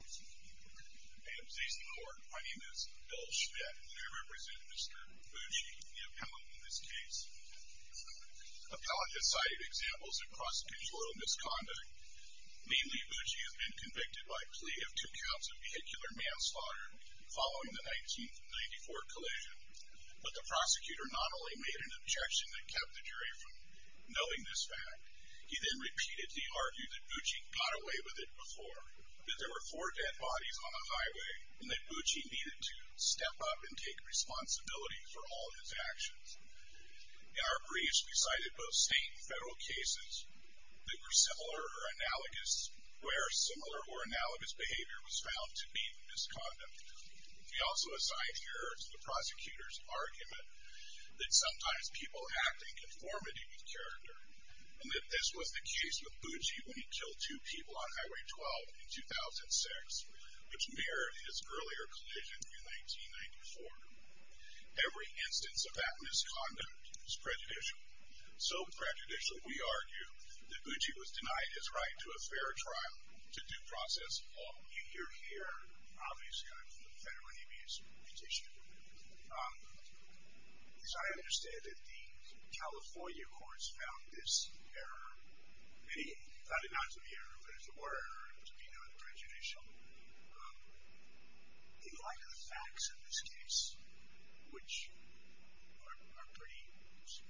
My name is Bill Schmidt and I represent Mr. Bucci, the appellant in this case. Appellant has cited examples of prosecutorial misconduct. Mainly, Bucci has been convicted by plea of two counts of vehicular manslaughter following the 1994 collision. But the prosecutor not only made an objection that kept the jury from knowing this fact, he then repeatedly argued that Bucci got away with it before. That there were four dead bodies on the highway and that Bucci needed to step up and take responsibility for all his actions. In our briefs, we cited both state and federal cases that were similar or analogous, where similar or analogous behavior was found to be misconduct. We also assign here to the prosecutor's argument that sometimes people act in conformity with character. And that this was the case with Bucci when he killed two people on Highway 12 in 2006, which mirrored his earlier collision in 1994. Every instance of that misconduct is prejudicial. So prejudicial, we argue, that Bucci was denied his right to a fair trial, to due process, all you hear here, obviously, I'm from the Federal Aviation Commission. As I understand it, the California courts found this error. They found it not to be an error, but it's a broader error to be known as prejudicial. They lack the facts in this case, which are pretty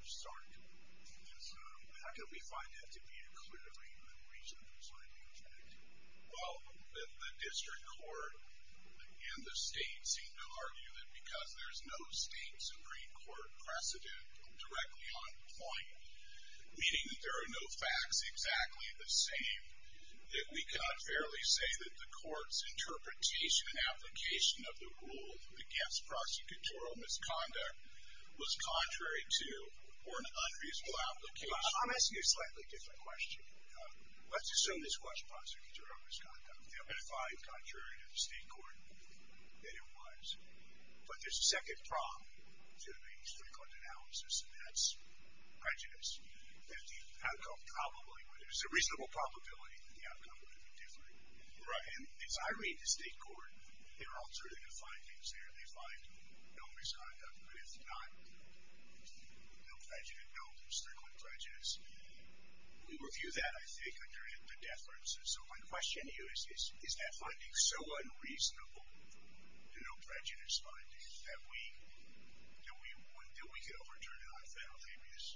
stark. And how can we find that to be a clearly reason for deciding to contract? Well, the district court and the state seem to argue that because there's no state Supreme Court precedent directly on point, meaning that there are no facts exactly the same, that we cannot fairly say that the court's interpretation and application of the rule against prosecutorial misconduct was contrary to or an unreasonable application. I'm asking a slightly different question. Let's assume this was prosecutorial misconduct. There have been five contrary to the state court that it was. But there's a second prong to the district court analysis, and that's prejudice, that the outcome probably would have been, there's a reasonable probability that the outcome would have been different. And as I read the state court, there are alternative findings there. They find no misconduct, but it's not, no prejudice, no district court prejudice. We review that, I think, under the death sentences. So my question to you is, is that finding so unreasonable, no prejudice finding, that we could overturn it on a federal basis?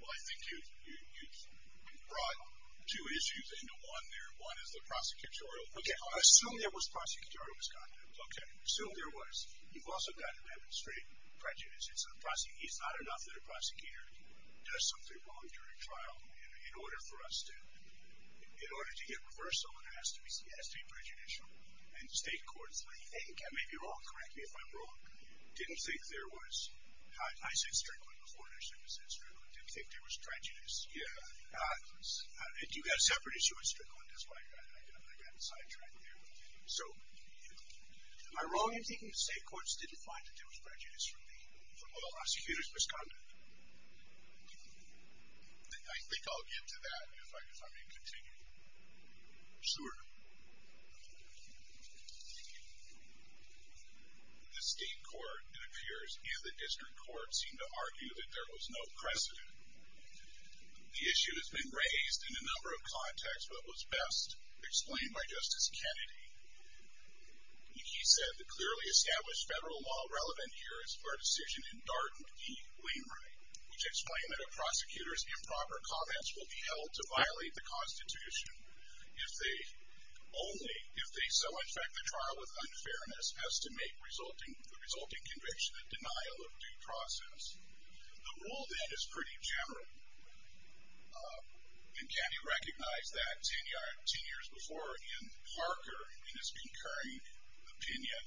Well, I think you've brought two issues into one there. One is the prosecutorial misconduct. Okay, I'll assume there was prosecutorial misconduct. Okay. Assume there was. You've also got to demonstrate prejudice. It's not enough that a prosecutor does something wrong during trial in order for us to, in order to get reversal, it has to be prejudicial. And the state courts, I think, I may be wrong, correct me if I'm wrong, didn't think there was, I said strickling before, and I shouldn't have said strickling, didn't think there was prejudice. And you've got a separate issue with strickling. That's why I got sidetracked there. So, am I wrong in thinking the state courts didn't find that there was prejudice from the prosecutors' misconduct? I think I'll get to that if I may continue. Sure. The state court, it appears, and the district court seem to argue that there was no precedent. The issue has been raised in a number of contexts, but was best explained by Justice Kennedy. He said, the clearly established federal law relevant here is for a decision in Darden v. Wainwright, which explained that a prosecutor's improper comments will be held to violate the Constitution only if they so infect the trial with unfairness as to make the resulting conviction a denial of due process. The rule, then, is pretty general. And Kennedy recognized that 10 years before in Parker, in his concurring opinion,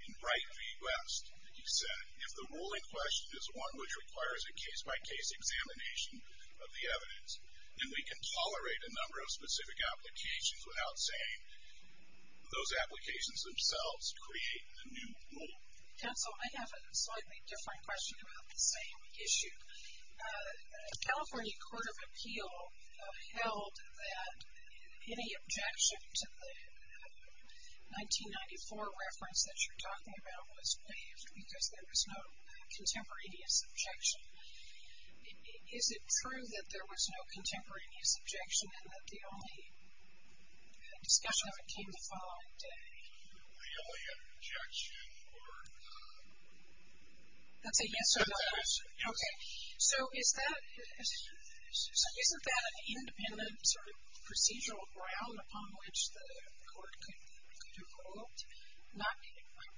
in Wright v. West. He said, if the ruling question is one which requires a case-by-case examination of the evidence, then we can tolerate a number of specific applications without saying those applications themselves create a new rule. Counsel, I have a slightly different question about the same issue. The California Court of Appeal held that any objection to the 1994 reference that you're talking about was waived because there was no contemporaneous objection. Is it true that there was no contemporaneous objection and that the only discussion of it came the following day? The only objection or... That's a yes or a no? That's a yes. Okay. So, isn't that an independent sort of procedural ground upon which the court could do both? Not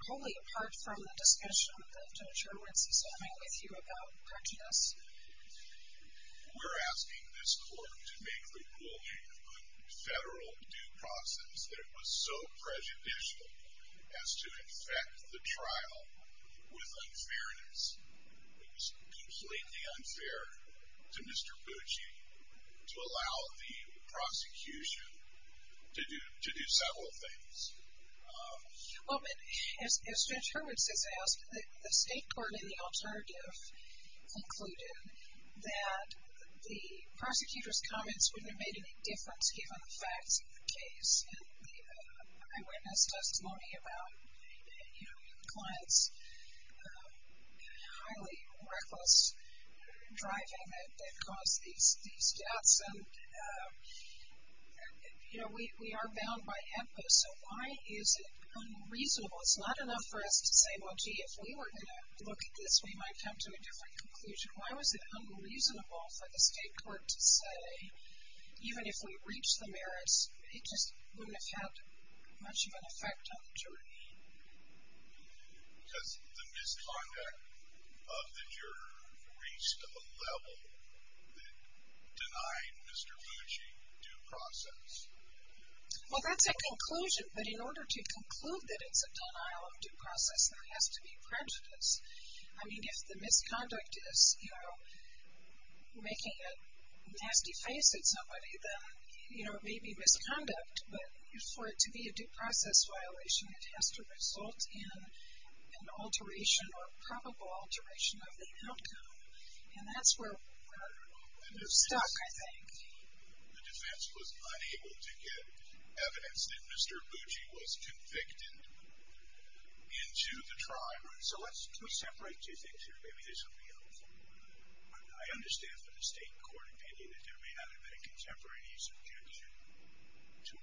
wholly apart from the discussion that Judge Irwin is having with you about correctness? We're asking this court to make the ruling of the federal due process that it was so prejudicial as to infect the trial with unfairness. It was completely unfair to Mr. Bucci to allow the prosecution to do several things. Well, but as Judge Irwin has asked, the state court in the alternative concluded that the prosecutor's comments wouldn't have made any difference given the facts of the case. And the eyewitness testimony about the client's highly reckless driving that caused these deaths. And, you know, we are bound by HEPA, so why is it unreasonable? It's not enough for us to say, well, gee, if we were going to look at this, we might come to a different conclusion. Why was it unreasonable for the state court to say, even if we reach the merits, it just wouldn't have had much of an effect on the jury. Has the misconduct of the juror reached a level that denied Mr. Bucci due process? Well, that's a conclusion, but in order to conclude that it's a denial of due process, there has to be prejudice. I mean, if the misconduct is, you know, making a nasty face at somebody, then, you know, it may be misconduct, but for it to be a due process violation, it has to result in an alteration or probable alteration of the outcome. And that's where we're stuck, I think. The defense was unable to get evidence that Mr. Bucci was convicted into the trial. So let's separate two things here. Maybe there's something else. I understand from the state court opinion that there may not have been a contemporaneous objection to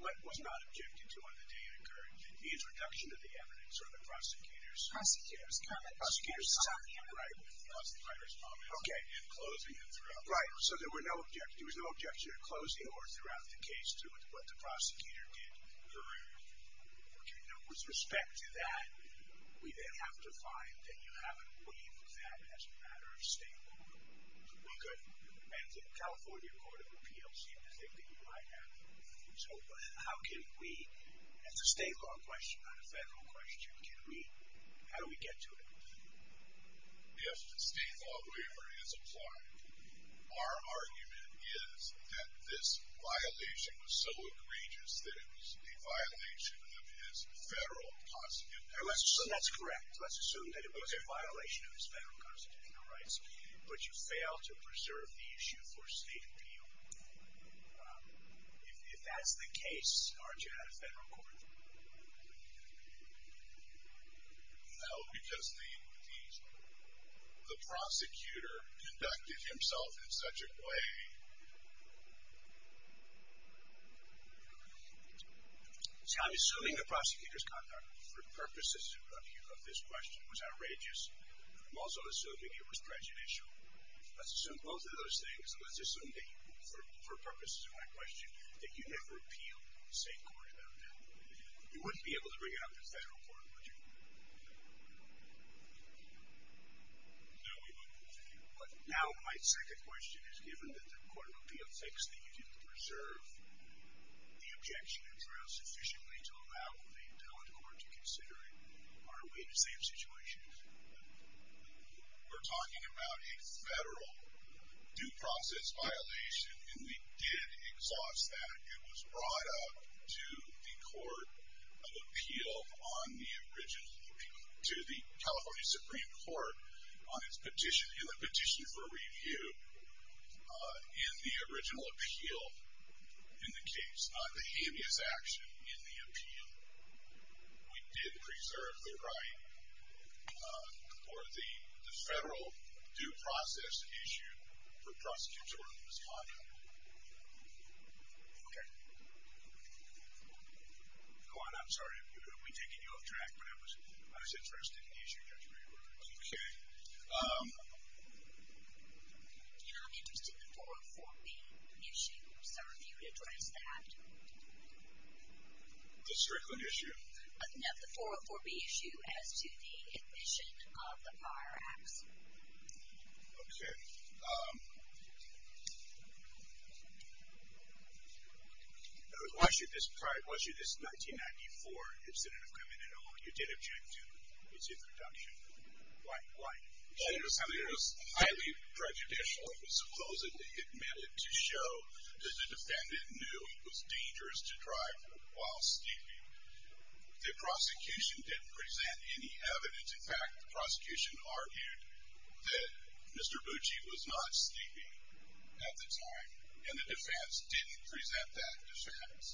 what was not objected to on the day it occurred. It means reduction of the evidence or the prosecutor's comment. Prosecutor's comment. Right, the prosecutor's comment. Okay. Closing it throughout. Right, so there was no objection to closing or throughout the case to what the prosecutor did. You know, with respect to that, we then have to find that you haven't waived that as a matter of state law. And the California Court of Appeals seemed to think that you might have. So how can we, as a state law question, not a federal question, how do we get to it? If the state law waiver is applied, our argument is that this violation was so egregious that it was a violation of his federal constitutional rights. That's correct. Let's assume that it was a violation of his federal constitutional rights, but you failed to preserve the issue for state appeal. If that's the case, aren't you out of federal court? No, because the prosecutor conducted himself in such a way. See, I'm assuming the prosecutor's comment, for purposes of this question, was outrageous. I'm also assuming it was prejudicial. Let's assume both of those things, and let's assume that for purposes of my question, that you never appealed to the state court about that. You wouldn't be able to bring it up to the federal court, would you? No, we wouldn't. But now my second question is, given that the court of appeals thinks that you didn't preserve the objection address sufficiently to allow the appellate court to consider it, are we in the same situation? We're talking about a federal due process violation, and we did exhaust that. It was brought up to the California Supreme Court in the petition for review in the original appeal in the case, not in the habeas action in the appeal. We did preserve the right for the federal due process issue for prosecutors to respond to. Okay. Go on, I'm sorry. We're taking you off track, but I was interested in the issue. Okay. You know, I'm interested in the 404B issue, sir, if you would address that. The Strickland issue? No, the 404B issue as to the admission of the prior acts. Okay. Why should this 1994, if it's in an agreement at all, you did object to its introduction? It was highly prejudicial. It was supposedly admitted to show that the defendant knew it was dangerous to drive while sleeping. The prosecution didn't present any evidence. In fact, the prosecution argued that Mr. Bucci was not sleeping at the time, and the defense didn't present that defense.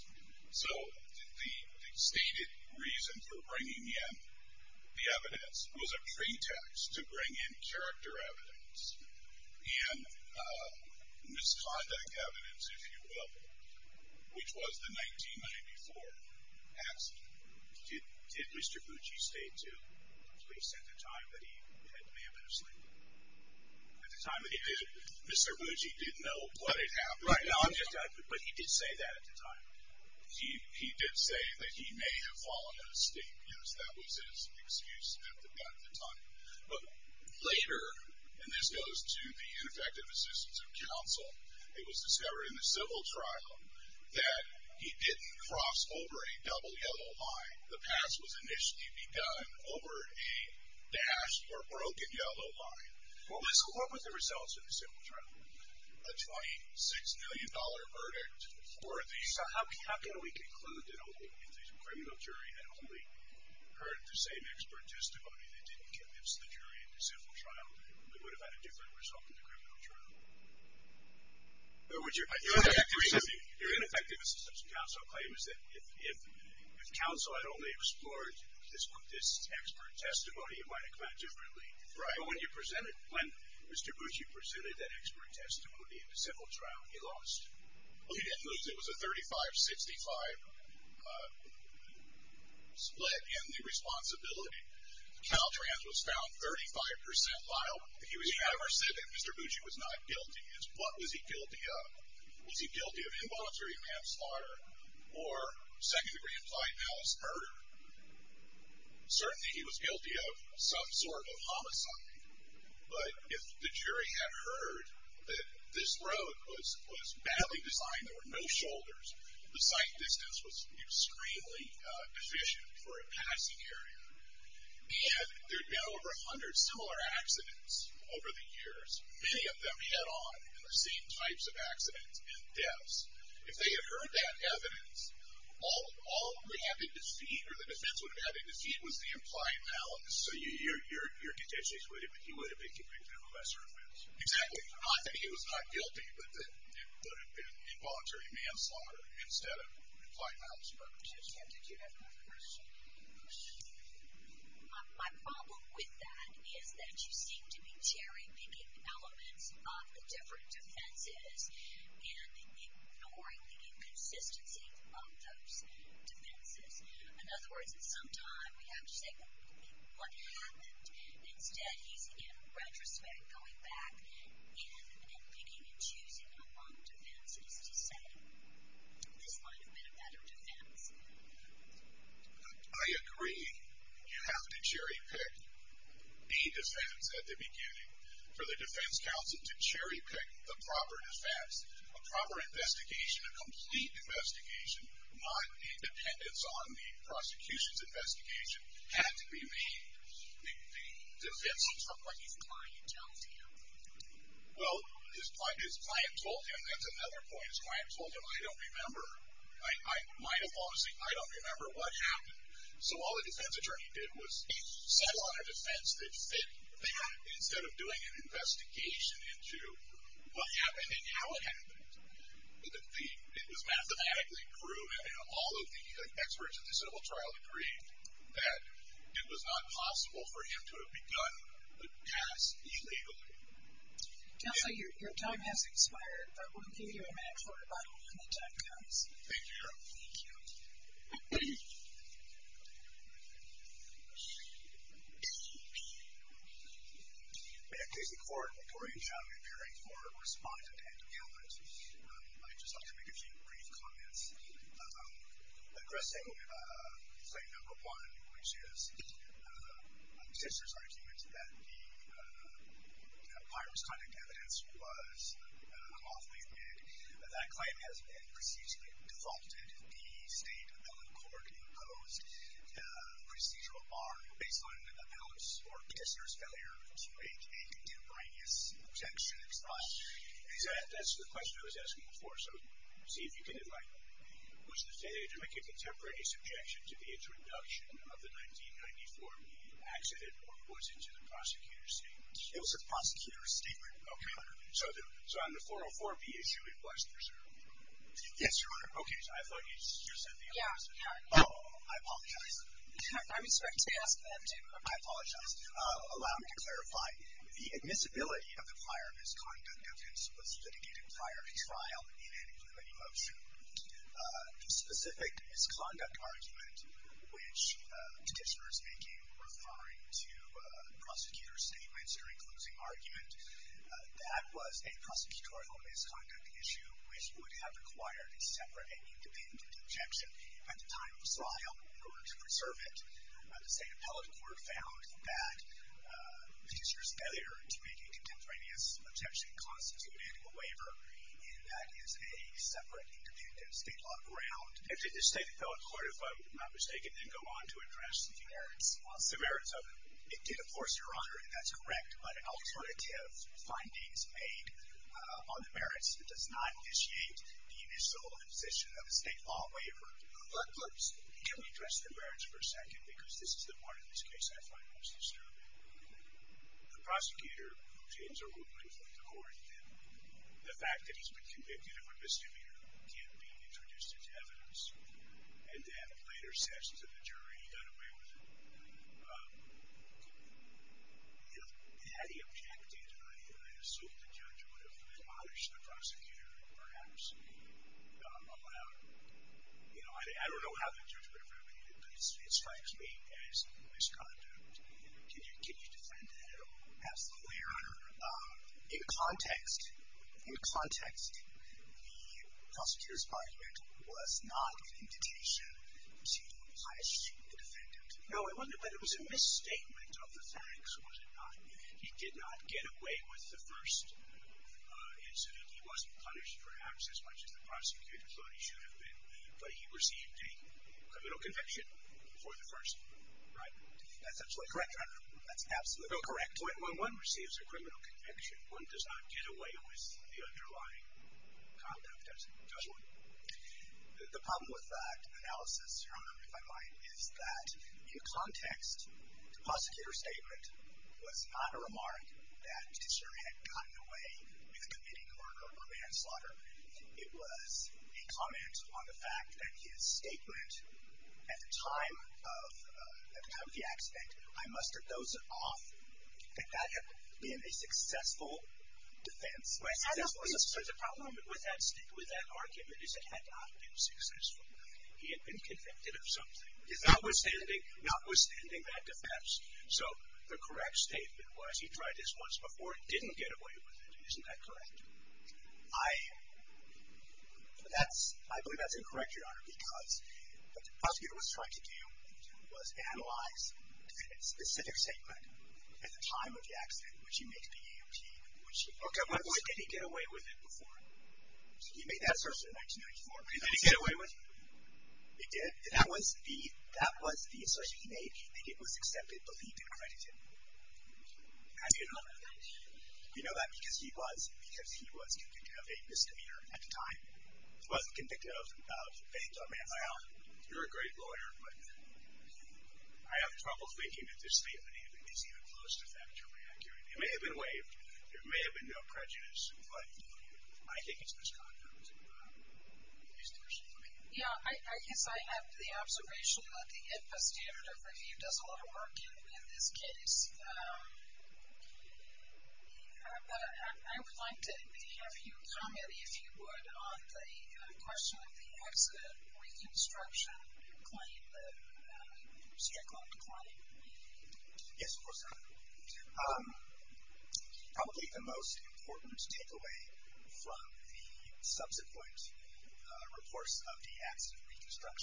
So the stated reason for bringing in the evidence was a pretext to bring in character evidence and misconduct evidence, if you will, which was the 1994 act. Did Mr. Bucci state to police at the time that he may have been asleep? At the time that he did, Mr. Bucci didn't know what had happened. Right. But he did say that at the time. He did say that he may have fallen asleep, because that was his excuse at the time. But later, and this goes to the ineffective assistance of counsel, it was discovered in the civil trial that he didn't cross over a double yellow line. The pass was initially begun over a dashed or broken yellow line. What was the result of the civil trial? A $26 million verdict. So how can we conclude that if the criminal jury had only heard the same expert testimony, they didn't convince the jury in the civil trial, they would have had a different result in the criminal trial? Your ineffective assistance of counsel claim is that if counsel had only explored this expert testimony, it might have gone differently. Right. But when you presented, when Mr. Bucci presented that expert testimony in the civil trial, he lost. Well, he didn't lose. It was a 35-65 split in the responsibility. Caltrans was found 35% liable. He was found or said that Mr. Bucci was not guilty. What was he guilty of? Was he guilty of involuntary manslaughter or second-degree implied malice murder? Certainly he was guilty of some sort of homicide. But if the jury had heard that this road was badly designed, there were no shoulders, the sight distance was extremely deficient for a passing area. And there had been over 100 similar accidents over the years, many of them head-on in the same types of accidents and deaths. If they had heard that evidence, all they had to defeat or the defense would have had to defeat was the implied malice. So your contention is he would have been convicted of a lesser offense? Exactly. Not that he was not guilty, but that it would have been involuntary manslaughter instead of implied malice murder. Patricia, did you have a question? My problem with that is that you seem to be cherry-picking elements of the different defenses and ignoring the inconsistency of those defenses. In other words, at some time we have to say, what happened? Instead he's, in retrospect, going back in and picking and choosing among defenses to say, this might have been a better defense. I agree. You have to cherry-pick the defense at the beginning for the defense counsel to cherry-pick the proper defense. A proper investigation, a complete investigation, not independence on the prosecution's investigation, had to be made. The defense was from what his client told him. Well, his client told him. That's another point. His client told him, I don't remember. I might have fallen asleep. I don't remember what happened. So all the defense attorney did was settle on a defense that fit that instead of doing an investigation into what happened and how it happened. It was mathematically proven, and all of the experts in the civil trial agreed, that it was not possible for him to have begun the case illegally. Counselor, your time has expired, but we'll give you a minute for a rebuttal when the time comes. Thank you, Cheryl. Thank you. May it please the Court, Victoria Chang appearing for respondent and appealant. I'd just like to make a few brief comments. Aggressing claim number one, which is the officer's argument that the pirate's conduct evidence was unlawfully made. That claim has been procedurally defaulted. The state appellate court imposed procedural bar based on an appellant's or officer's failure to make a contemporaneous objection. That's the question I was asking before, so see if you can define it. Was the failure to make a contemporaneous objection to the introduction of the 1994 B accident or was it the prosecutor's statement? It was the prosecutor's statement. Okay. So on the 404 B issue, it was preserved. Yes, Your Honor. Okay, so I thought you said the opposite. Yeah. Oh, I apologize. I'm sorry to ask that too. I apologize. Allow me to clarify. The admissibility of the pirate's conduct evidence was litigated prior to trial in an immunity motion. The specific misconduct argument, which the petitioner is making referring to the prosecutor's statements during closing argument, that was a prosecutorial misconduct issue, which would have required a separate and independent objection at the time of trial in order to preserve it. The state appellate court found that the petitioner's failure to make a separate and commutative state law ground. And did the state appellate court, if I'm not mistaken, then go on to address the merits of it? It did, of course, Your Honor, and that's correct. But alternative findings made on the merits does not initiate the initial imposition of a state law waiver. Let me address the merits for a second because this is the part of this case that I find most disturbing. The prosecutor, who James Earl Woodman, the fact that he's been convicted of a misdemeanor, can't be introduced into evidence. And that later sets to the jury, he got away with it. Had he objected, I assume the judge would have admonished the prosecutor and perhaps allowed him. I don't know how the judge would have reacted, but it strikes me as misconduct. Can you defend that at all? Absolutely, Your Honor. In context, the prosecutor's argument was not an invitation to punish the defendant. No, it wasn't, but it was a misstatement of the facts, was it not? He did not get away with the first incident. He wasn't punished perhaps as much as the prosecutor thought he should have been, but he received a criminal conviction for the first, right? That's absolutely correct, Your Honor. That's absolutely correct. When one receives a criminal conviction, one does not get away with the underlying conduct, does one? The problem with that analysis, Your Honor, if I might, is that in context, the prosecutor's statement was not a remark that the jury had gotten away with a committing murder or manslaughter. It was a comment on the fact that his statement at the time of the accident, I must have dozed off, and that had been a successful defense. So the problem with that argument is it had not been successful. He had been convicted of something, notwithstanding that defense. So the correct statement was he tried this once before and didn't get away with it. Isn't that correct? I believe that's incorrect, Your Honor, because what the prosecutor was trying to do was analyze a specific statement at the time of the accident, which he made to the EOP, which he did. Okay, but why didn't he get away with it before? He made that assertion in 1994. Did he get away with it? He did. That was the assertion he made, and it was accepted, believed, and credited. How do you know that? Do you know that? Because he was convicted of a misdemeanor at the time. He wasn't convicted of anything. I mean, you're a great lawyer, but I have trouble thinking that this statement is even close to factually accurate. It may have been waived. There may have been no prejudice, but I think it's misconduct. Yeah, I guess I have the observation that the IPA standard of review does a lot of work in this case. But I would like to have you comment, if you would, on the question of the accident reconstruction claim, the Sierra Club claim. Yes, of course. Probably the most important takeaway from the subsequent reports of the accident is that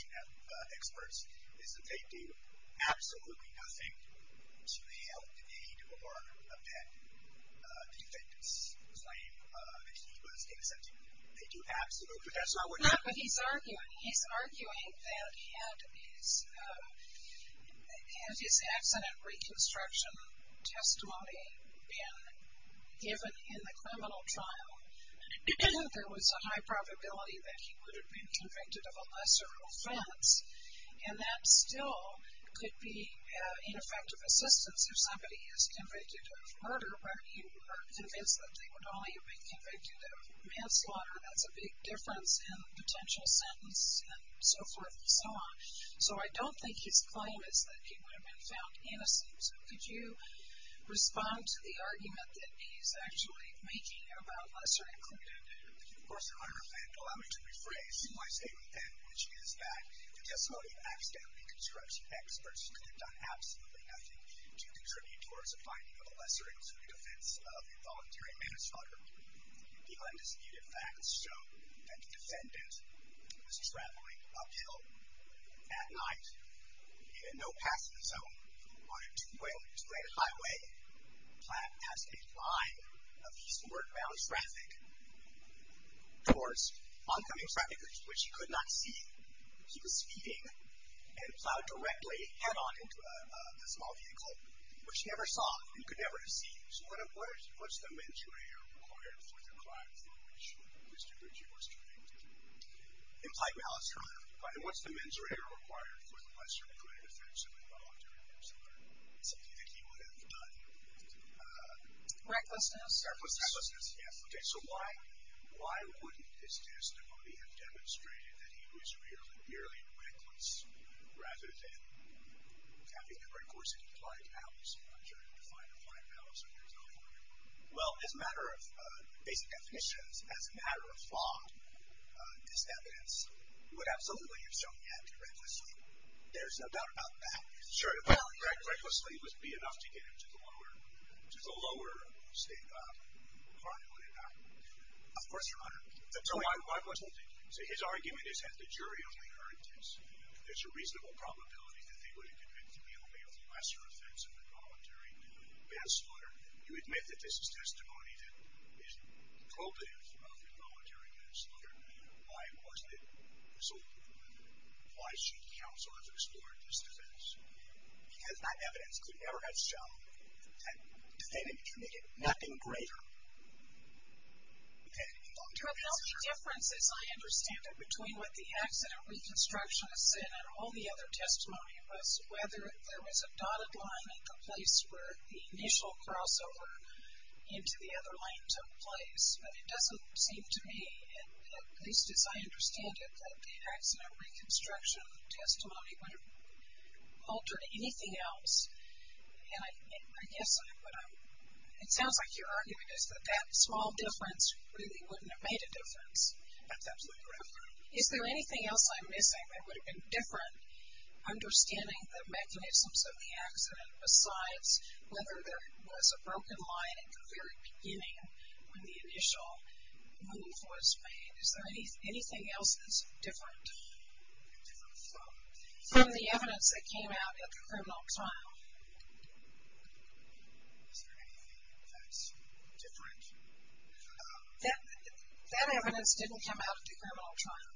there was a high probability that he would have been convicted of a lesser happened to him. I mean, that's not what he's arguing. He's arguing that had his accident reconstruction testimony been given in the criminal trial, there was a high probability that he would have been convicted of a lesser offense. And that still could be ineffective assistance. If somebody is convicted of murder, where you are convinced that they would only have been convicted of manslaughter, that's a big difference in the potential sentence and so forth and so on. So I don't think his claim is that he would have been found innocent. Could you respond to the argument that he's actually making about lesser included? If you force an argument, allow me to rephrase my statement then, which is that the testimony of accident reconstruction experts could have done absolutely nothing to contribute towards a finding of a lesser included offense of involuntary manslaughter. The undisputed facts show that the defendant was traveling uphill at night, he had no passenger zone on a two-lane highway, he was driving past a line of eastward-bound traffic towards oncoming traffic, which he could not see. He was speeding and plowed directly head-on into a small vehicle, which he never saw and could never have seen. So what's the mens rea required for the crime for which Mr. Ritchie was convicted? Implied malice crime. And what's the mens re required for the lesser included offense of involuntary manslaughter? So do you think he would have done recklessness? Recklessness, yes. Okay. So why wouldn't his testimony have demonstrated that he was merely reckless rather than having never, of course, implied malice? I'm not sure how to define implied malice. Well, as a matter of basic definitions, as a matter of thought, this evidence would absolutely have shown he acted recklessly. There's no doubt about that. Sure. Recklessly would be enough to get him to the lower state of crime, wouldn't it not? Of course, Your Honor. So his argument is that the jury only heard this. There's a reasonable probability that they would have convicted him merely of the lesser offense of involuntary manslaughter. You admit that this is testimony that is culpative of involuntary manslaughter. Why wasn't it resulted in that? Why should counsel have explored this defense? Because that evidence could never have shown that defendant committed nothing greater than involuntary manslaughter. But the only difference, as I understand it, between what the accident reconstructionist said and all the other testimony was whether there was a dotted line at the place where the initial crossover into the other line took place. But it doesn't seem to me, at least as I understand it, that the accident reconstruction testimony would have altered anything else. And I guess what I'm, it sounds like your argument is that that small difference really wouldn't have made a difference. That's absolutely correct, Your Honor. Is there anything else I'm missing that would have been different? Understanding the mechanisms of the accident besides whether there was a broken line at the very beginning when the initial move was made. Is there anything else that's different? From the evidence that came out at the criminal trial. Is there anything that's different? That evidence didn't come out at the criminal trial.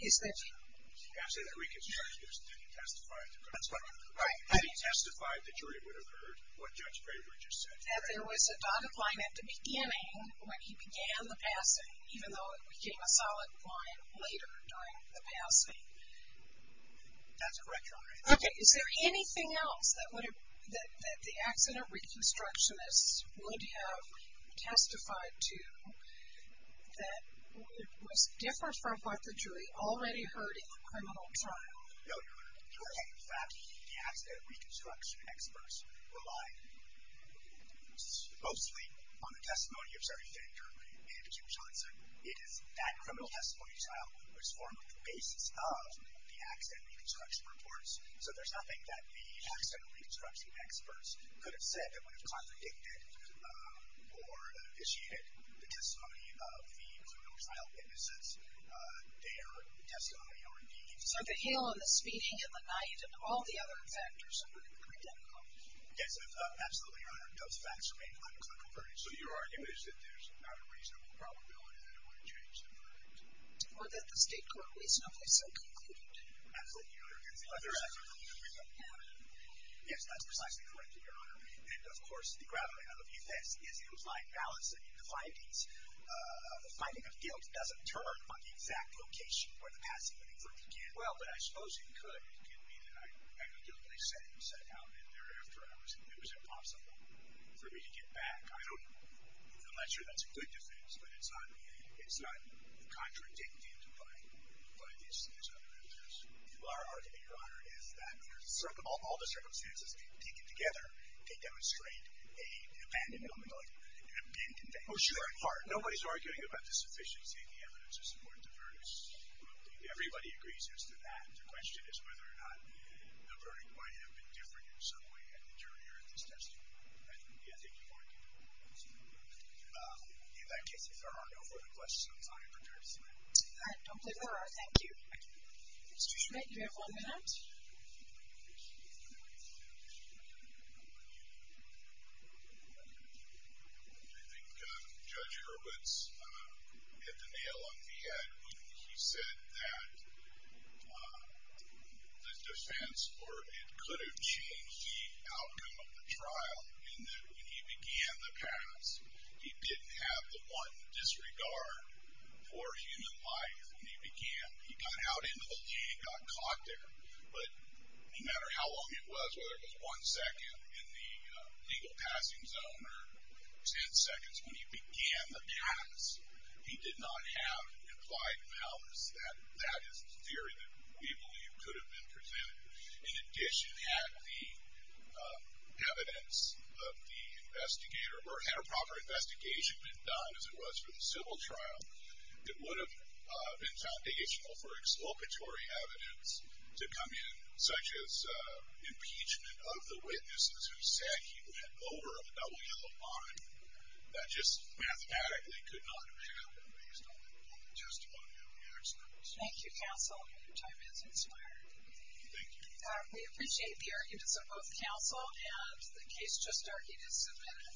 You can't say the reconstructionist didn't testify at the criminal trial. Right. He testified the jury would have heard what Judge Bravery just said. That there was a dotted line at the beginning when he began the passing, even though it became a solid line later during the passing. That's correct, Your Honor. Okay. Is there anything else that the accident reconstructionist would have testified to that was different from what the jury already heard in the criminal trial? No, Your Honor. Okay. The fact that the accident reconstruction experts relied mostly on the testimony of Jerry Fink or Andrew Johnson, it is that criminal testimony trial that was formed on the basis of the accident reconstruction reports. So there's nothing that the accident reconstruction experts could have said that would have contradicted or initiated the testimony of the criminal trial witnesses, their testimony or indeed the subject. So the hail and the speeding and the night and all the other factors would have been identical. Yes, absolutely, Your Honor. Those facts remain unconfirmed. So your argument is that there's not a reasonable probability that it would have changed the verdict? Or that the state court reasonably so concluded. Absolutely, Your Honor. Yes, that's precisely correct, Your Honor. And, of course, the gravity of the defense is implied balance in the findings. The finding of guilt doesn't turn on the exact location where the passing Well, but I suppose it could. It could be that I had a guilty setting set out and thereafter it was impossible for me to get back. I don't know. I'm not sure that's a good defense, but it's not contradicted by these other evidence. Well, our argument, Your Honor, is that all the circumstances taken together can demonstrate an abandonment, like an abandonment. Oh, sure. Nobody's arguing about the sufficiency of the evidence. Everybody agrees as to that. The question is whether or not the verdict might have been different in some way at the jury or at this testimony. Thank you for your time. In that case, if there are no further questions, I am prepared to sign off. All right. Thank you. Mr. Schmidt, you have one minute. I think Judge Hurwitz hit the nail on the head when he said that the defense or it could have changed the outcome of the trial in that when he began the pass, he didn't have the one disregard for human life. He got out into the lane, got caught there, but no matter how long it was, whether it was one second in the legal passing zone or ten seconds when he began the pass, he did not have implied malice. That is the theory that we believe could have been presented. In addition, had the evidence of the investigator or had a proper investigation been done as it was for the civil trial, it would have been foundational for exploitatory evidence to come in such as impeachment of the witnesses who said he went over a double yellow line. That just mathematically could not have happened based on the testimony of the expert. Thank you, counsel. Your time is expired. Thank you. We appreciate the arguments of both counsel and the case just argued is submitted. Thank you.